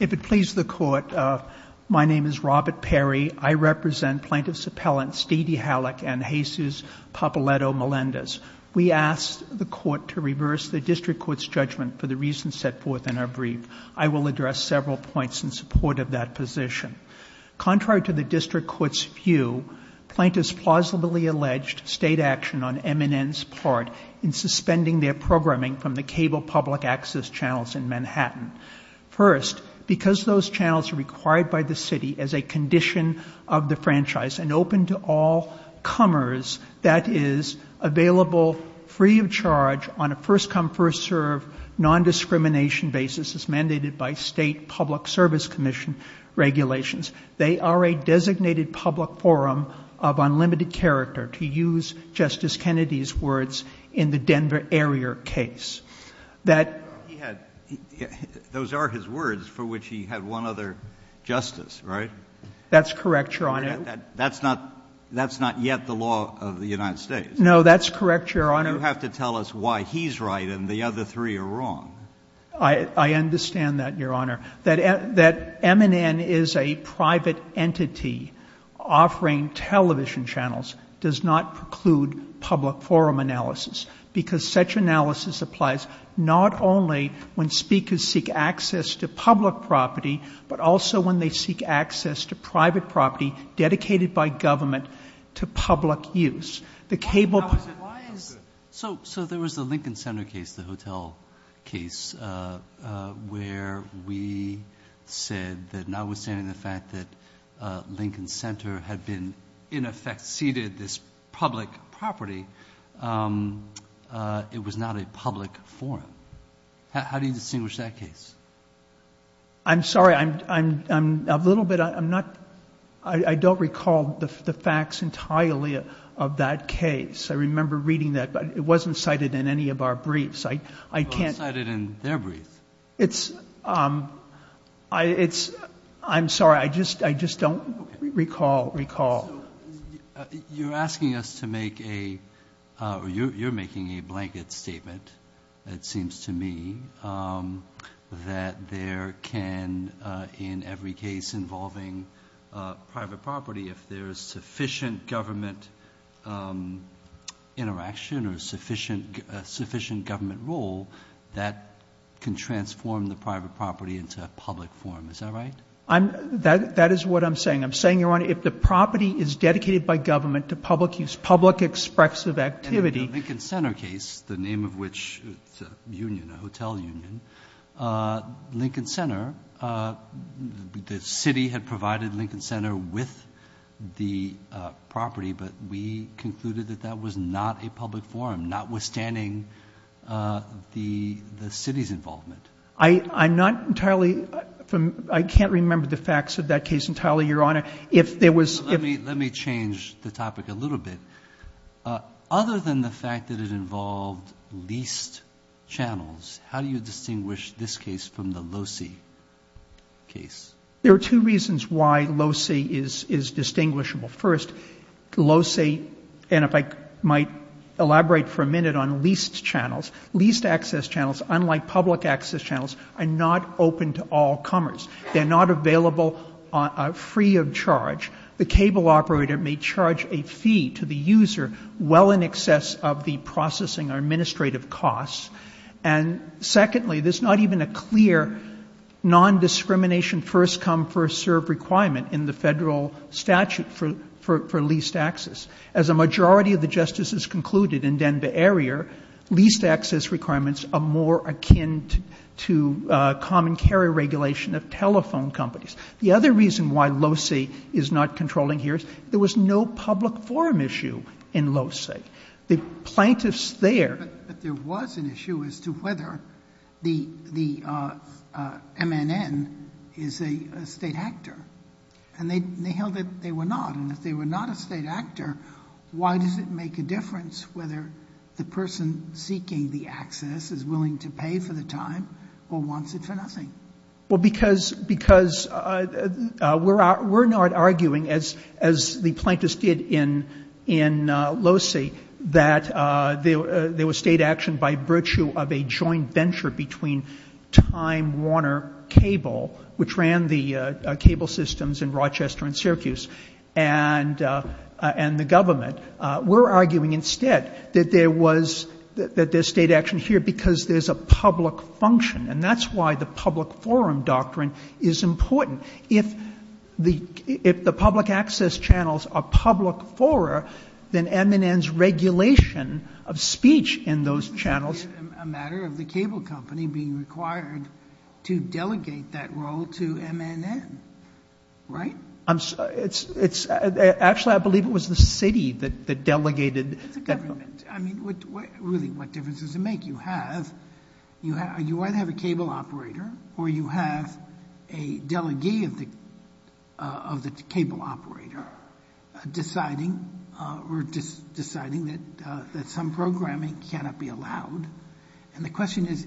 If it pleases the Court, my name is Robert Perry. I represent Plaintiffs' Appellants D.D. Halleck and Jesus Pappaletto Melendez. We ask the Court to reverse the District Court's judgment for the reasons set forth in our brief. I will address several points in support of that position. Contrary to the District Court's view, Plaintiffs plausibly alleged state action on MNN's part in suspending their programming from the Cable Public Access Channels in Manhattan. First, because those channels are required by the City as a condition of the franchise and open to all comers, that is, available free of charge on a first-come, first-serve, non-discrimination basis as mandated by State Public Service Commission regulations. They are a designated public forum of unlimited character, to use Justice Kennedy's words in the Denver area case. That Those are his words, for which he had one other justice, right? That's correct, Your Honor. That's not yet the law of the United States. No, that's correct, Your Honor. You have to tell us why he's right and the other three are wrong. I understand that, Your Honor. That MNN is a private entity offering television channels does not preclude public forum analysis, because such analysis applies not only when speakers seek access to public property, but also when they seek access to private property dedicated by government to public use. The Cable Public Access So there was the Lincoln Center case, the hotel case, where we said that notwithstanding the fact that Lincoln Center had been, in effect, ceded this public property, it was not a public forum. How do you distinguish that case? I'm sorry. I'm a little bit, I'm not, I don't recall the facts entirely of that case. I remember reading that, but it wasn't cited in any of our briefs. I can't Well, it was cited in their briefs. It's, I'm sorry. I just, I just don't recall, recall. You're asking us to make a, you're making a blanket statement. It seems to me that there can, in every case involving private property, if there's sufficient government interaction or sufficient, sufficient government role, that can transform the private property into a public forum. Is that right? That is what I'm saying. I'm saying, Your Honor, if the property is dedicated by government to public use, public expressive activity And in the Lincoln Center case, the name of which, it's a union, a hotel union, Lincoln Center, the city had provided Lincoln Center with the property, but we concluded that that was not a public forum, notwithstanding the city's involvement. I'm not entirely, I can't remember the facts of that case entirely, Your Honor. If there was Let me change the topic a little bit. Other than the fact that it involved leased channels, how do you distinguish this case from the Locey case? There are two reasons why Locey is distinguishable. First, Locey, and if I might elaborate for a minute on leased channels, leased access channels, unlike public access channels, are not open to all comers. They're not available free of charge. The cable operator may charge a fee to the user well in excess of the processing or administrative costs. And secondly, there's not even a clear nondiscrimination first come, first serve requirement in the Federal statute for leased access. As a majority of the justices concluded in Denver area, leased access requirements are more akin to common carrier regulation of telephone companies. The other reason why Locey is not controlling here is there was no public forum issue in Locey. The plaintiffs there But there was an issue as to whether the MNN is a state actor. And they held that they were not. And if they were not a state actor, why does it make a difference whether the person seeking the access is willing to pay for the time or wants it for nothing? Well, because we're not arguing, as the plaintiffs did in Locey, that there was state action by virtue of a joint venture between Time Warner Cable, which ran the cable systems in Rochester and Syracuse, and the government. We're arguing instead that there's state action here because there's a public function. And that's why the public forum doctrine is important. If the public access channels are public fora, then MNN's regulation of speech in those channels It's a matter of the cable company being required to delegate that role to MNN, right? Actually, I believe it was the city that delegated It's the government. I mean, really, what difference does it make? You have, you either have a cable operator or you have a delegate of the cable operator deciding that some programming cannot be allowed. And the question is,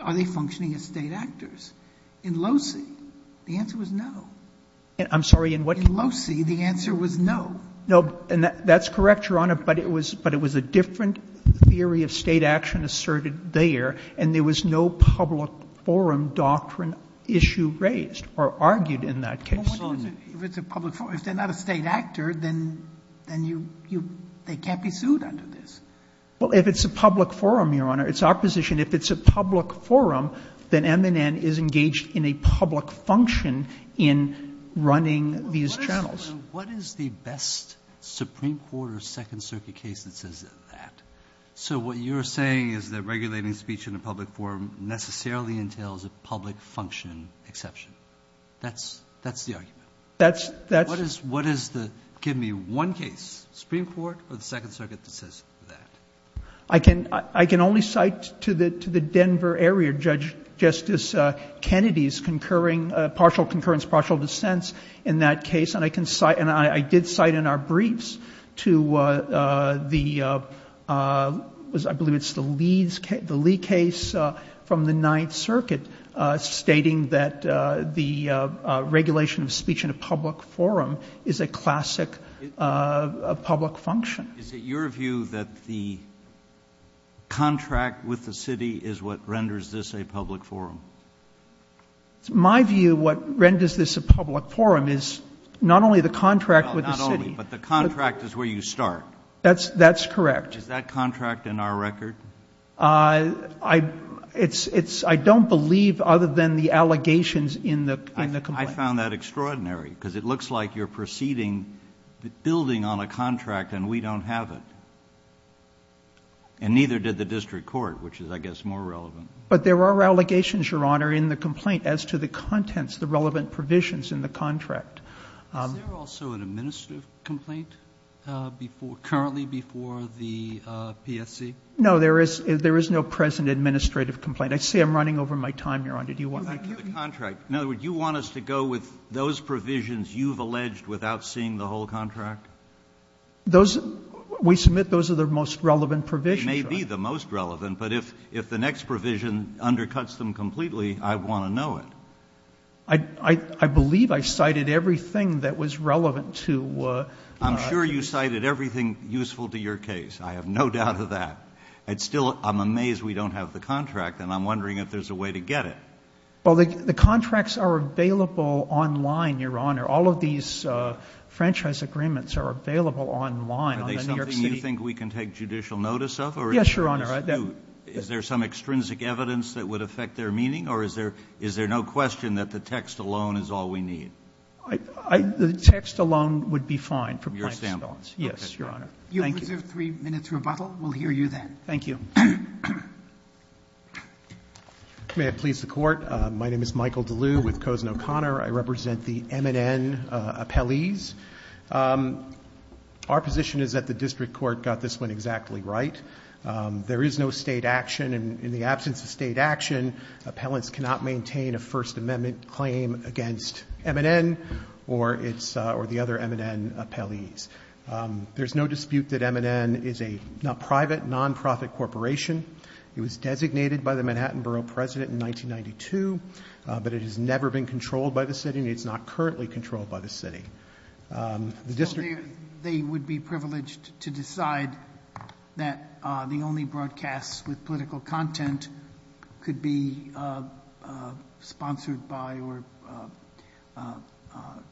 are they functioning as state actors? In Locey, the answer was no. I'm sorry, in what? In Locey, the answer was no. No, and that's correct, Your Honor, but it was a different theory of state action asserted there, and there was no public forum doctrine issue raised or argued in that case. If it's a public forum, if they're not a state actor, then they can't be sued under this. Well, if it's a public forum, Your Honor, it's opposition. If it's a public forum, then MNN is engaged in a public function in running these channels. What is the best Supreme Court or Second Circuit case that says that? So what you're saying is that regulating speech in a public forum necessarily entails a public function exception. That's that's the argument. That's that's what is the give me one case, Supreme Court or the Second Circuit that says that? I can I can only cite to the to the Denver area, Judge Justice Kennedy's concurring partial concurrence, partial dissents in that case. And I can cite and I did cite in our briefs to the I believe it's the Lee case from the Ninth Circuit stating that the regulation of speech in a public forum is a classic public function. And is it your view that the contract with the city is what renders this a public forum? My view, what renders this a public forum is not only the contract with the city. But the contract is where you start. That's that's correct. Is that contract in our record? I it's it's I don't believe other than the allegations in the in the complaint. I found that extraordinary because it looks like you're proceeding, building on a contract and we don't have it. And neither did the district court, which is, I guess, more relevant. But there are allegations, Your Honor, in the complaint as to the contents, the relevant provisions in the contract. Is there also an administrative complaint before, currently before the PSC? No, there is no present administrative complaint. I see I'm running over my time, Your Honor. Do you want me to continue? In other words, you want us to go with those provisions you've alleged without seeing the whole contract? Those, we submit those are the most relevant provisions. They may be the most relevant, but if if the next provision undercuts them completely, I want to know it. I, I, I believe I cited everything that was relevant to. I'm sure you cited everything useful to your case. I have no doubt of that. It's still, I'm amazed we don't have the contract and I'm wondering if there's a way to get it. Well, the contracts are available online, Your Honor. All of these franchise agreements are available online on the New York City. Are they something you think we can take judicial notice of? Yes, Your Honor. Is there some extrinsic evidence that would affect their meaning? Or is there no question that the text alone is all we need? The text alone would be fine for my response. Yes, Your Honor. Thank you. You have three minutes rebuttal. We'll hear you then. Thank you. May it please the court. My name is Michael DeLue with Kozen O'Connor. I represent the MNN appellees. Our position is that the district court got this one exactly right. There is no state action, and in the absence of state action, appellants cannot maintain a First Amendment claim against MNN or the other MNN appellees. There's no dispute that MNN is a private, non-profit corporation. It was designated by the Manhattan Borough President in 1992, but it has never been controlled by the city, and it's not currently controlled by the city. The district- They would be privileged to decide that the only broadcasts with political content could be sponsored by or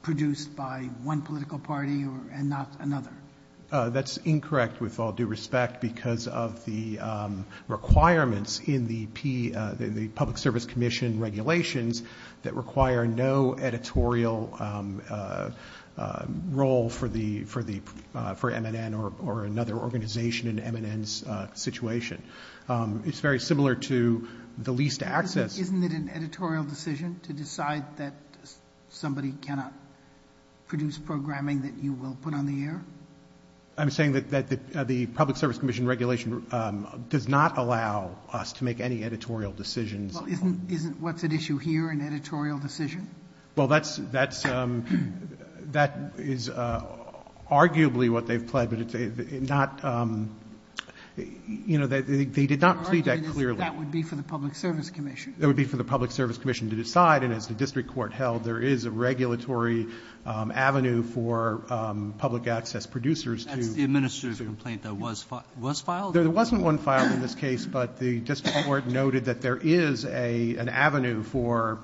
produced by one political party and not another. That's incorrect with all due respect because of the requirements in the public service commission regulations that require no editorial role for MNN or another organization in MNN's situation. It's very similar to the least access- Isn't it an editorial decision to decide that somebody cannot produce programming that you will put on the air? I'm saying that the public service commission regulation does not allow us to make any editorial decisions. Well, isn't what's at issue here an editorial decision? Well, that is arguably what they've pledged, but they did not plead that clearly. That would be for the public service commission. That would be for the public service commission to decide, and as the district court held, there is a regulatory avenue for public access producers to- That's the administrative complaint that was filed? There wasn't one filed in this case, but the district court noted that there is an avenue for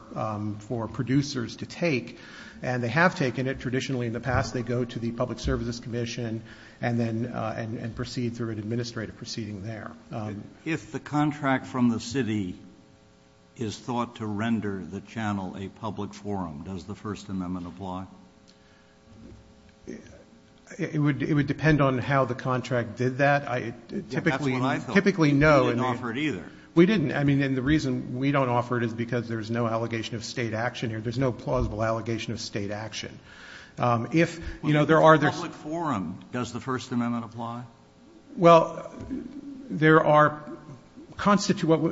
producers to take, and they have taken it. Traditionally, in the past, they go to the public services commission and then proceed through an administrative proceeding there. If the contract from the city is thought to render the channel a public forum, does the first amendment apply? It would depend on how the contract did that. It typically- That's what I thought. Typically, no. We didn't offer it either. We didn't. I mean, and the reason we don't offer it is because there's no allegation of state action here. There's no plausible allegation of state action. If, you know, there are- If it's a public forum, does the first amendment apply? Well, there are-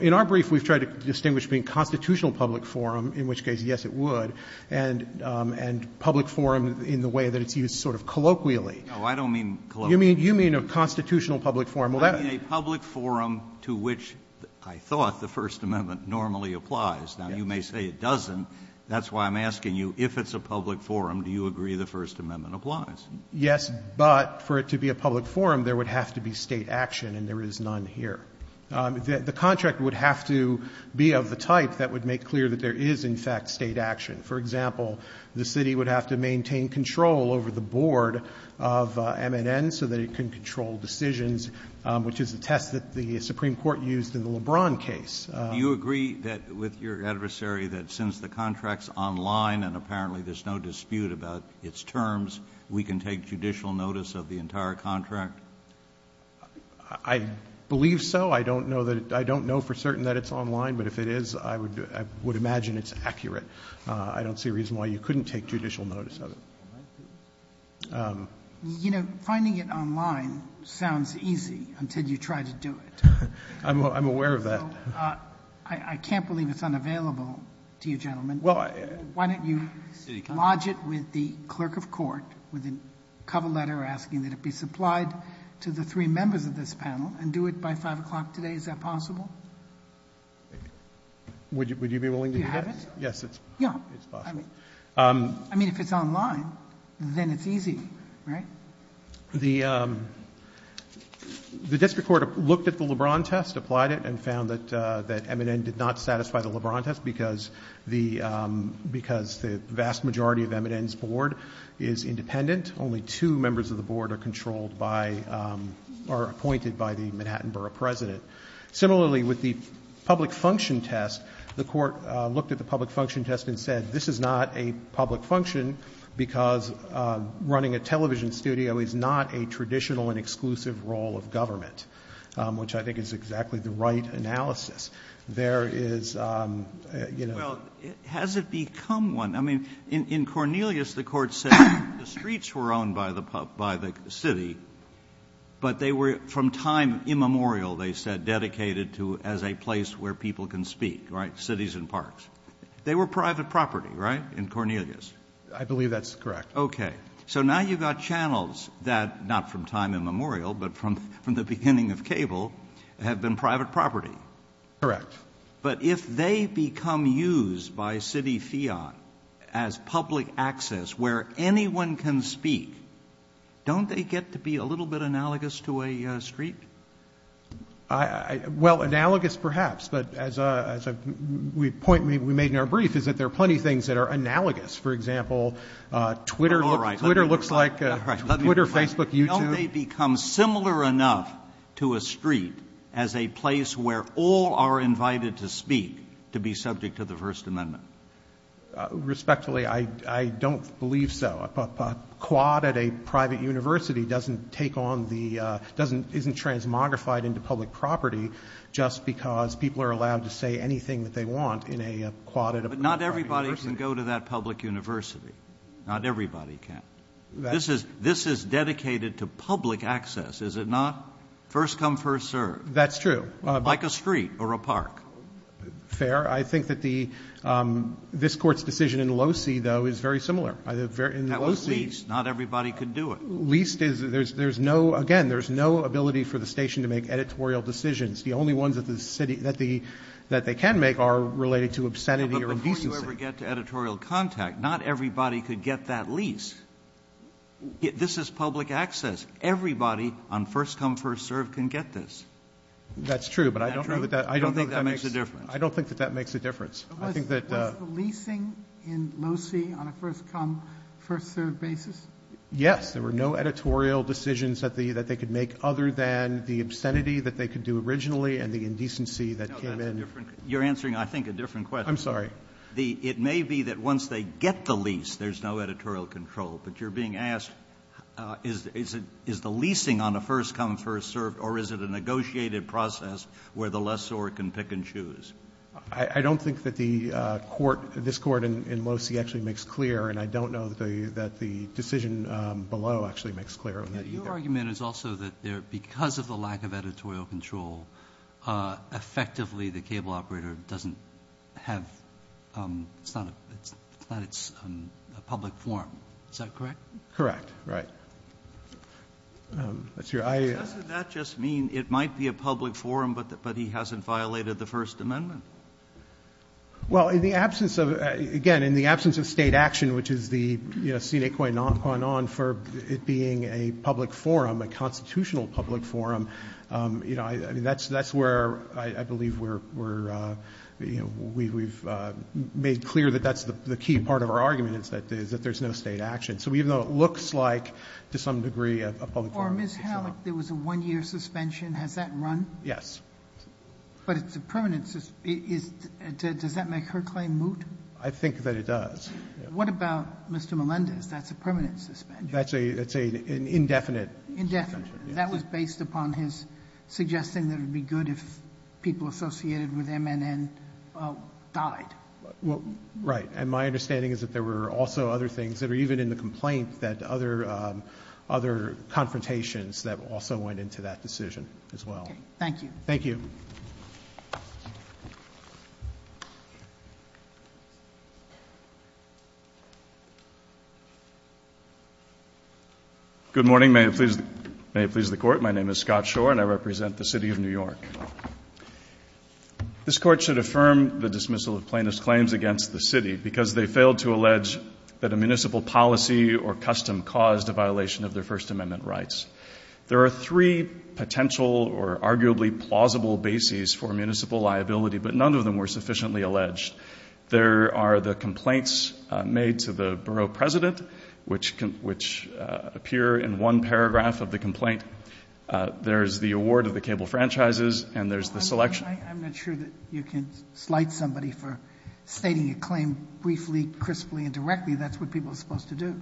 in our brief, we've tried to distinguish between constitutional public forum, in which case, yes, it would, and public forum in the way that it's used sort of colloquially. No, I don't mean colloquially. You mean a constitutional public forum. I mean a public forum to which I thought the first amendment normally applies. Now, you may say it doesn't. That's why I'm asking you, if it's a public forum, do you agree the first amendment applies? Yes, but for it to be a public forum, there would have to be state action, and there is none here. The contract would have to be of the type that would make clear that there is, in fact, state action. For example, the city would have to maintain control over the board of MNN so that it can control decisions, which is the test that the Supreme Court used in the LeBron case. Do you agree that with your adversary that since the contract's online and apparently there's no dispute about its terms, we can take judicial notice of the entire contract? I believe so. I don't know for certain that it's online, but if it is, I would imagine it's accurate. I don't see a reason why you couldn't take judicial notice of it. You know, finding it online sounds easy until you try to do it. I'm aware of that. I can't believe it's unavailable to you gentlemen. Why don't you lodge it with the clerk of court with a cover letter asking that it be supplied to the three members of this panel and do it by 5 o'clock today, is that possible? Would you be willing to do that? Do you have it? Yes, it's possible. Yeah, I mean, if it's online, then it's easy, right? The district court looked at the LeBron test, applied it, and because the vast majority of Eminent's board is independent, only two members of the board are controlled by or appointed by the Manhattan Borough President. Similarly, with the public function test, the court looked at the public function test and said this is not a public function because running a television studio is not a traditional and exclusive role of government, which I think is exactly the right analysis. There is, you know- Well, has it become one? I mean, in Cornelius, the court said the streets were owned by the city, but they were from time immemorial, they said, dedicated to as a place where people can speak, right, cities and parks. They were private property, right, in Cornelius? I believe that's correct. Okay. So now you've got channels that, not from time immemorial, but from the beginning of cable, have been private property. Correct. But if they become used by city fiat as public access where anyone can speak, don't they get to be a little bit analogous to a street? Well, analogous perhaps, but as a point we made in our brief is that there are plenty of things that are analogous. Don't they become similar enough to a street as a place where all are invited to speak to be subject to the First Amendment? Respectfully, I don't believe so. A quad at a private university doesn't take on the, isn't transmogrified into public property just because people are allowed to say anything that they want in a quad at a private university. But not everybody can go to that public university. Not everybody can. This is dedicated to public access, is it not? First come, first served. That's true. Like a street or a park. Fair. I think that the, this Court's decision in Locey, though, is very similar. In Locey, not everybody could do it. Leased is, there's no, again, there's no ability for the station to make editorial decisions. The only ones that the city, that they can make are related to obscenity or indecency. If you ever get to editorial contact, not everybody could get that lease. This is public access. Everybody on first come, first served can get this. That's true, but I don't know that that, I don't think that makes a difference. I don't think that that makes a difference. Was the leasing in Locey on a first come, first served basis? Yes. There were no editorial decisions that they could make other than the obscenity that they could do originally and the indecency that came in. You're answering, I think, a different question. I'm sorry. It may be that once they get the lease, there's no editorial control. But you're being asked, is the leasing on a first come, first served, or is it a negotiated process where the lessor can pick and choose? I don't think that the court, this court in Locey actually makes clear, and I don't know that the decision below actually makes clear on that either. Your argument is also that because of the lack of editorial control, effectively the cable operator doesn't have, it's not a public forum. Is that correct? Correct, right. That's your idea. Doesn't that just mean it might be a public forum, but he hasn't violated the First Amendment? Well, in the absence of, again, in the absence of state action, which is the sine qua non qua non for it being a public forum, a constitutional public forum, that's where I believe we're, we've made clear that that's the key part of our argument, is that there's no state action. So even though it looks like, to some degree, a public forum, it's not. Or Ms. Hallock, there was a one year suspension. Has that run? Yes. But it's a permanent, does that make her claim moot? I think that it does. What about Mr. Melendez? That's a permanent suspension. That's an indefinite suspension. Indefinite. That was based upon his suggesting that it would be good if people associated with MNN died. Well, right. And my understanding is that there were also other things that are even in the complaint that other confrontations that also went into that decision as well. Thank you. Thank you. Good morning. May it please the court. My name is Scott Shore and I represent the city of New York. This court should affirm the dismissal of plaintiff's claims against the city because they failed to allege that a municipal policy or custom caused a violation of their First Amendment rights. There are three potential or arguably plausible bases for municipal liability, but none of them were sufficiently alleged. There are the complaints made to the borough president, which appear in one paragraph of the complaint. There's the award of the cable franchises and there's the selection. I'm not sure that you can slight somebody for stating a claim briefly, crisply, and directly. That's what people are supposed to do.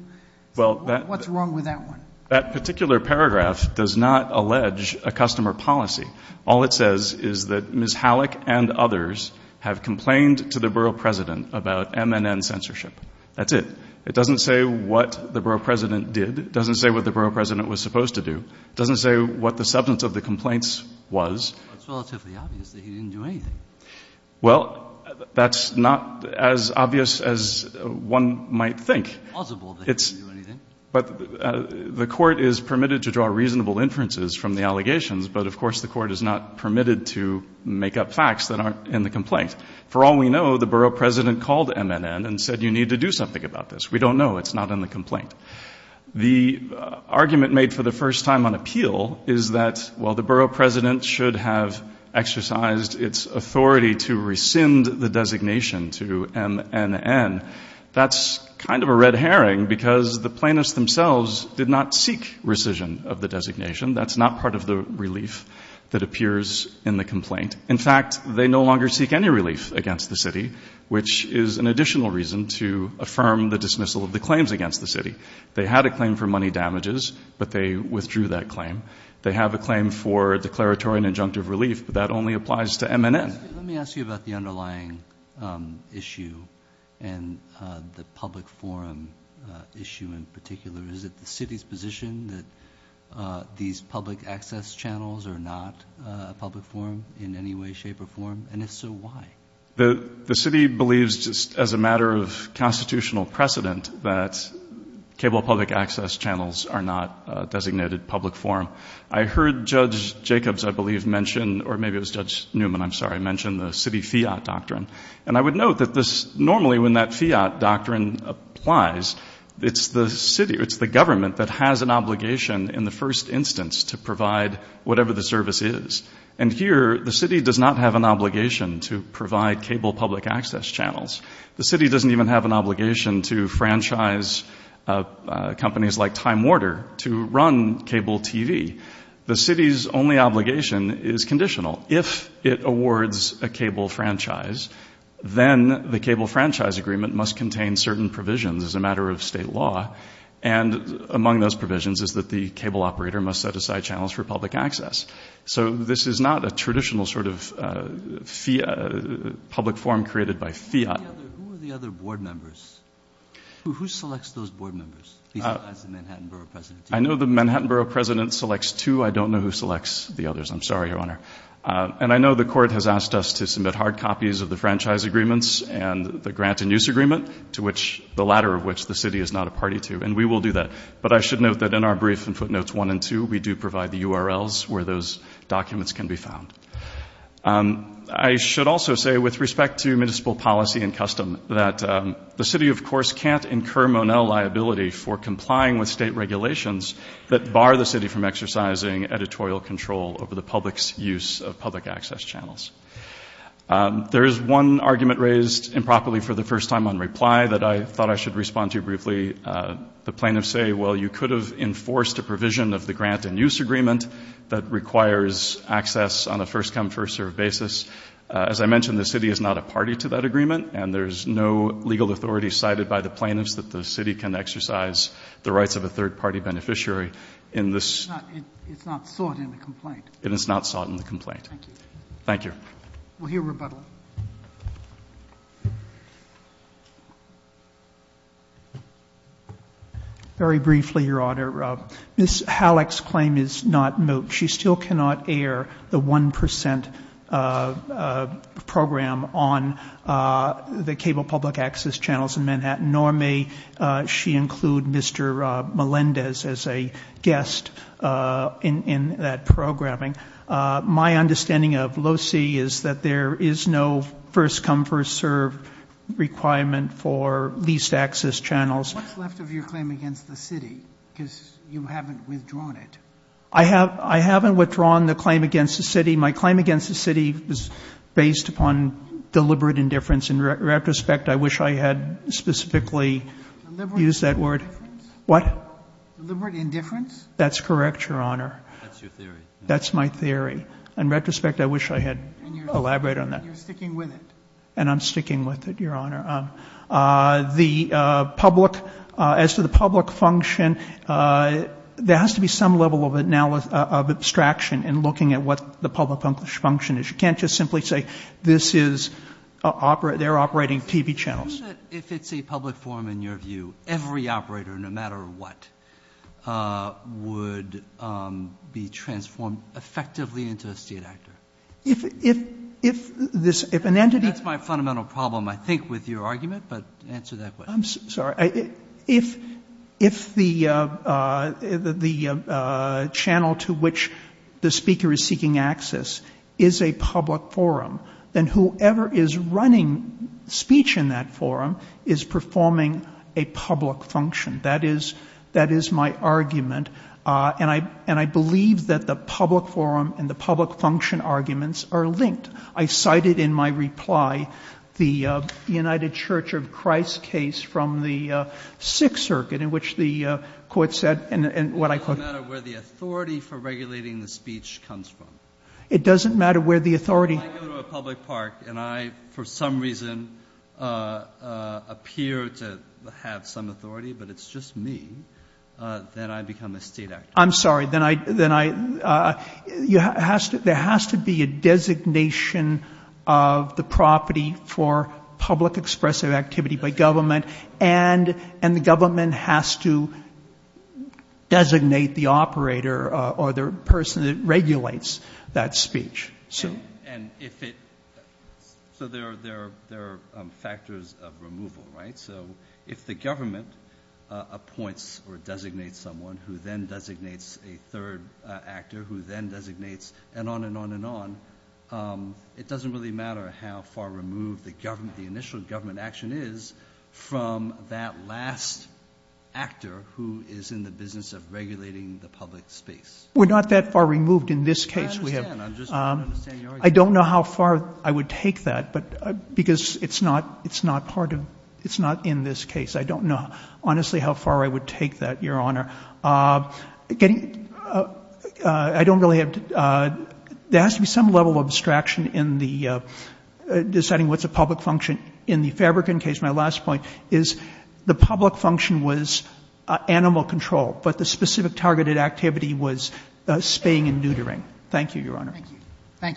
Well, that. What's wrong with that one? That particular paragraph does not allege a customer policy. All it says is that Ms. Halleck and others have complained to the borough president about MNN censorship. That's it. It doesn't say what the borough president did. It doesn't say what the borough president was supposed to do. It doesn't say what the substance of the complaints was. It's relatively obvious that he didn't do anything. Well, that's not as obvious as one might think. Possible that he didn't do anything. But the court is permitted to draw reasonable inferences from the allegations, but of course the court is not permitted to make up facts that aren't in the complaint. For all we know, the borough president called MNN and said you need to do something about this. We don't know. It's not in the complaint. The argument made for the first time on appeal is that, well, the borough president should have exercised its authority to rescind the designation to MNN. That's kind of a red herring because the plaintiffs themselves did not seek rescission of the designation. That's not part of the relief that appears in the complaint. In fact, they no longer seek any relief against the city, which is an additional reason to affirm the dismissal of the claims against the city. They had a claim for money damages, but they withdrew that claim. They have a claim for declaratory and injunctive relief, but that only applies to MNN. Let me ask you about the underlying issue and the public forum issue in particular. Is it the city's position that these public access channels are not a public forum in any way, shape, or form? And if so, why? The city believes, just as a matter of constitutional precedent, that cable public access channels are not a designated public forum. I heard Judge Jacobs, I believe, mention, or maybe it was Judge Newman, I'm sorry, mention the city fiat doctrine. And I would note that this, normally when that fiat doctrine applies, it's the city, it's the government that has an obligation in the first instance to provide whatever the service is. And here, the city does not have an obligation to provide cable public access channels. The city doesn't even have an obligation to franchise companies like Time Warner to run cable TV. The city's only obligation is conditional. If it awards a cable franchise, then the cable franchise agreement must contain certain provisions as a matter of state law. And among those provisions is that the cable operator must set aside channels for public access. So this is not a traditional sort of public forum created by fiat. Who are the other board members? Who selects those board members? He's the Manhattan Borough President. I know the Manhattan Borough President selects two. I don't know who selects the others. I'm sorry, Your Honor. And I know the court has asked us to submit hard copies of the franchise agreements and the grant and use agreement, to which the latter of which the city is not a party to. And we will do that. But I should note that in our brief in footnotes one and two, we do provide the URLs where those documents can be found. I should also say, with respect to municipal policy and custom, that the city, of course, can't incur Monell liability for complying with state regulations that bar the city from exercising editorial control over the public's use of public access channels. There is one argument raised improperly for the first time on reply that I thought I should respond to briefly. The plaintiffs say, well, you could have enforced a provision of the grant and use agreement that requires access on a first come, first serve basis. As I mentioned, the city is not a party to that agreement. And there's no legal authority cited by the plaintiffs that the city can exercise the rights of a third party beneficiary in this. It's not sought in the complaint. It is not sought in the complaint. Thank you. Thank you. We'll hear rebuttal. Very briefly, Your Honor, Ms. Halleck's claim is not moot. She still cannot air the 1% program on the cable public access channels in Manhattan, nor may she include Mr. Melendez as a guest in that programming. My understanding of LOCIE is that there is no first come, first serve requirement for least access channels. What's left of your claim against the city, because you haven't withdrawn it? I haven't withdrawn the claim against the city. My claim against the city is based upon deliberate indifference. In retrospect, I wish I had specifically used that word. What? Deliberate indifference? That's correct, Your Honor. That's your theory. That's my theory. In retrospect, I wish I had elaborated on that. And you're sticking with it. And I'm sticking with it, Your Honor. The public, as to the public function, there has to be some level of abstraction in looking at what the public function is. You can't just simply say this is, they're operating TV channels. If it's a public forum, in your view, every operator, no matter what, would be transformed effectively into a state actor? If an entity- I'm not familiar with your argument, but answer that question. I'm sorry. If the channel to which the speaker is seeking access is a public forum, then whoever is running speech in that forum is performing a public function. That is my argument, and I believe that the public forum and the public function arguments are linked. I cited in my reply the United Church of Christ case from the Sixth Circuit, in which the court said, and what I quote- It doesn't matter where the authority for regulating the speech comes from. It doesn't matter where the authority- If I go to a public park and I, for some reason, appear to have some authority, but it's just me, then I become a state actor. I'm sorry. Then I, you have to, there has to be a designation of the property for public expressive activity by government, and the government has to designate the operator or the person that regulates that speech. And if it, so there are factors of removal, right? So if the government appoints or designates someone who then designates a third actor who then designates, and on and on and on, it doesn't really matter how far removed the initial government action is from that last actor who is in the business of regulating the public space. We're not that far removed in this case. I understand, I'm just trying to understand your argument. I don't know how far I would take that, but, because it's not, it's not part of, it's not in this case. I don't know, honestly, how far I would take that, Your Honor. Getting, I don't really have to, there has to be some level of abstraction in the, deciding what's a public function in the Fabricant case. My last point is the public function was animal control, but the specific targeted activity was spaying and neutering. Thank you, Your Honor. Thank you.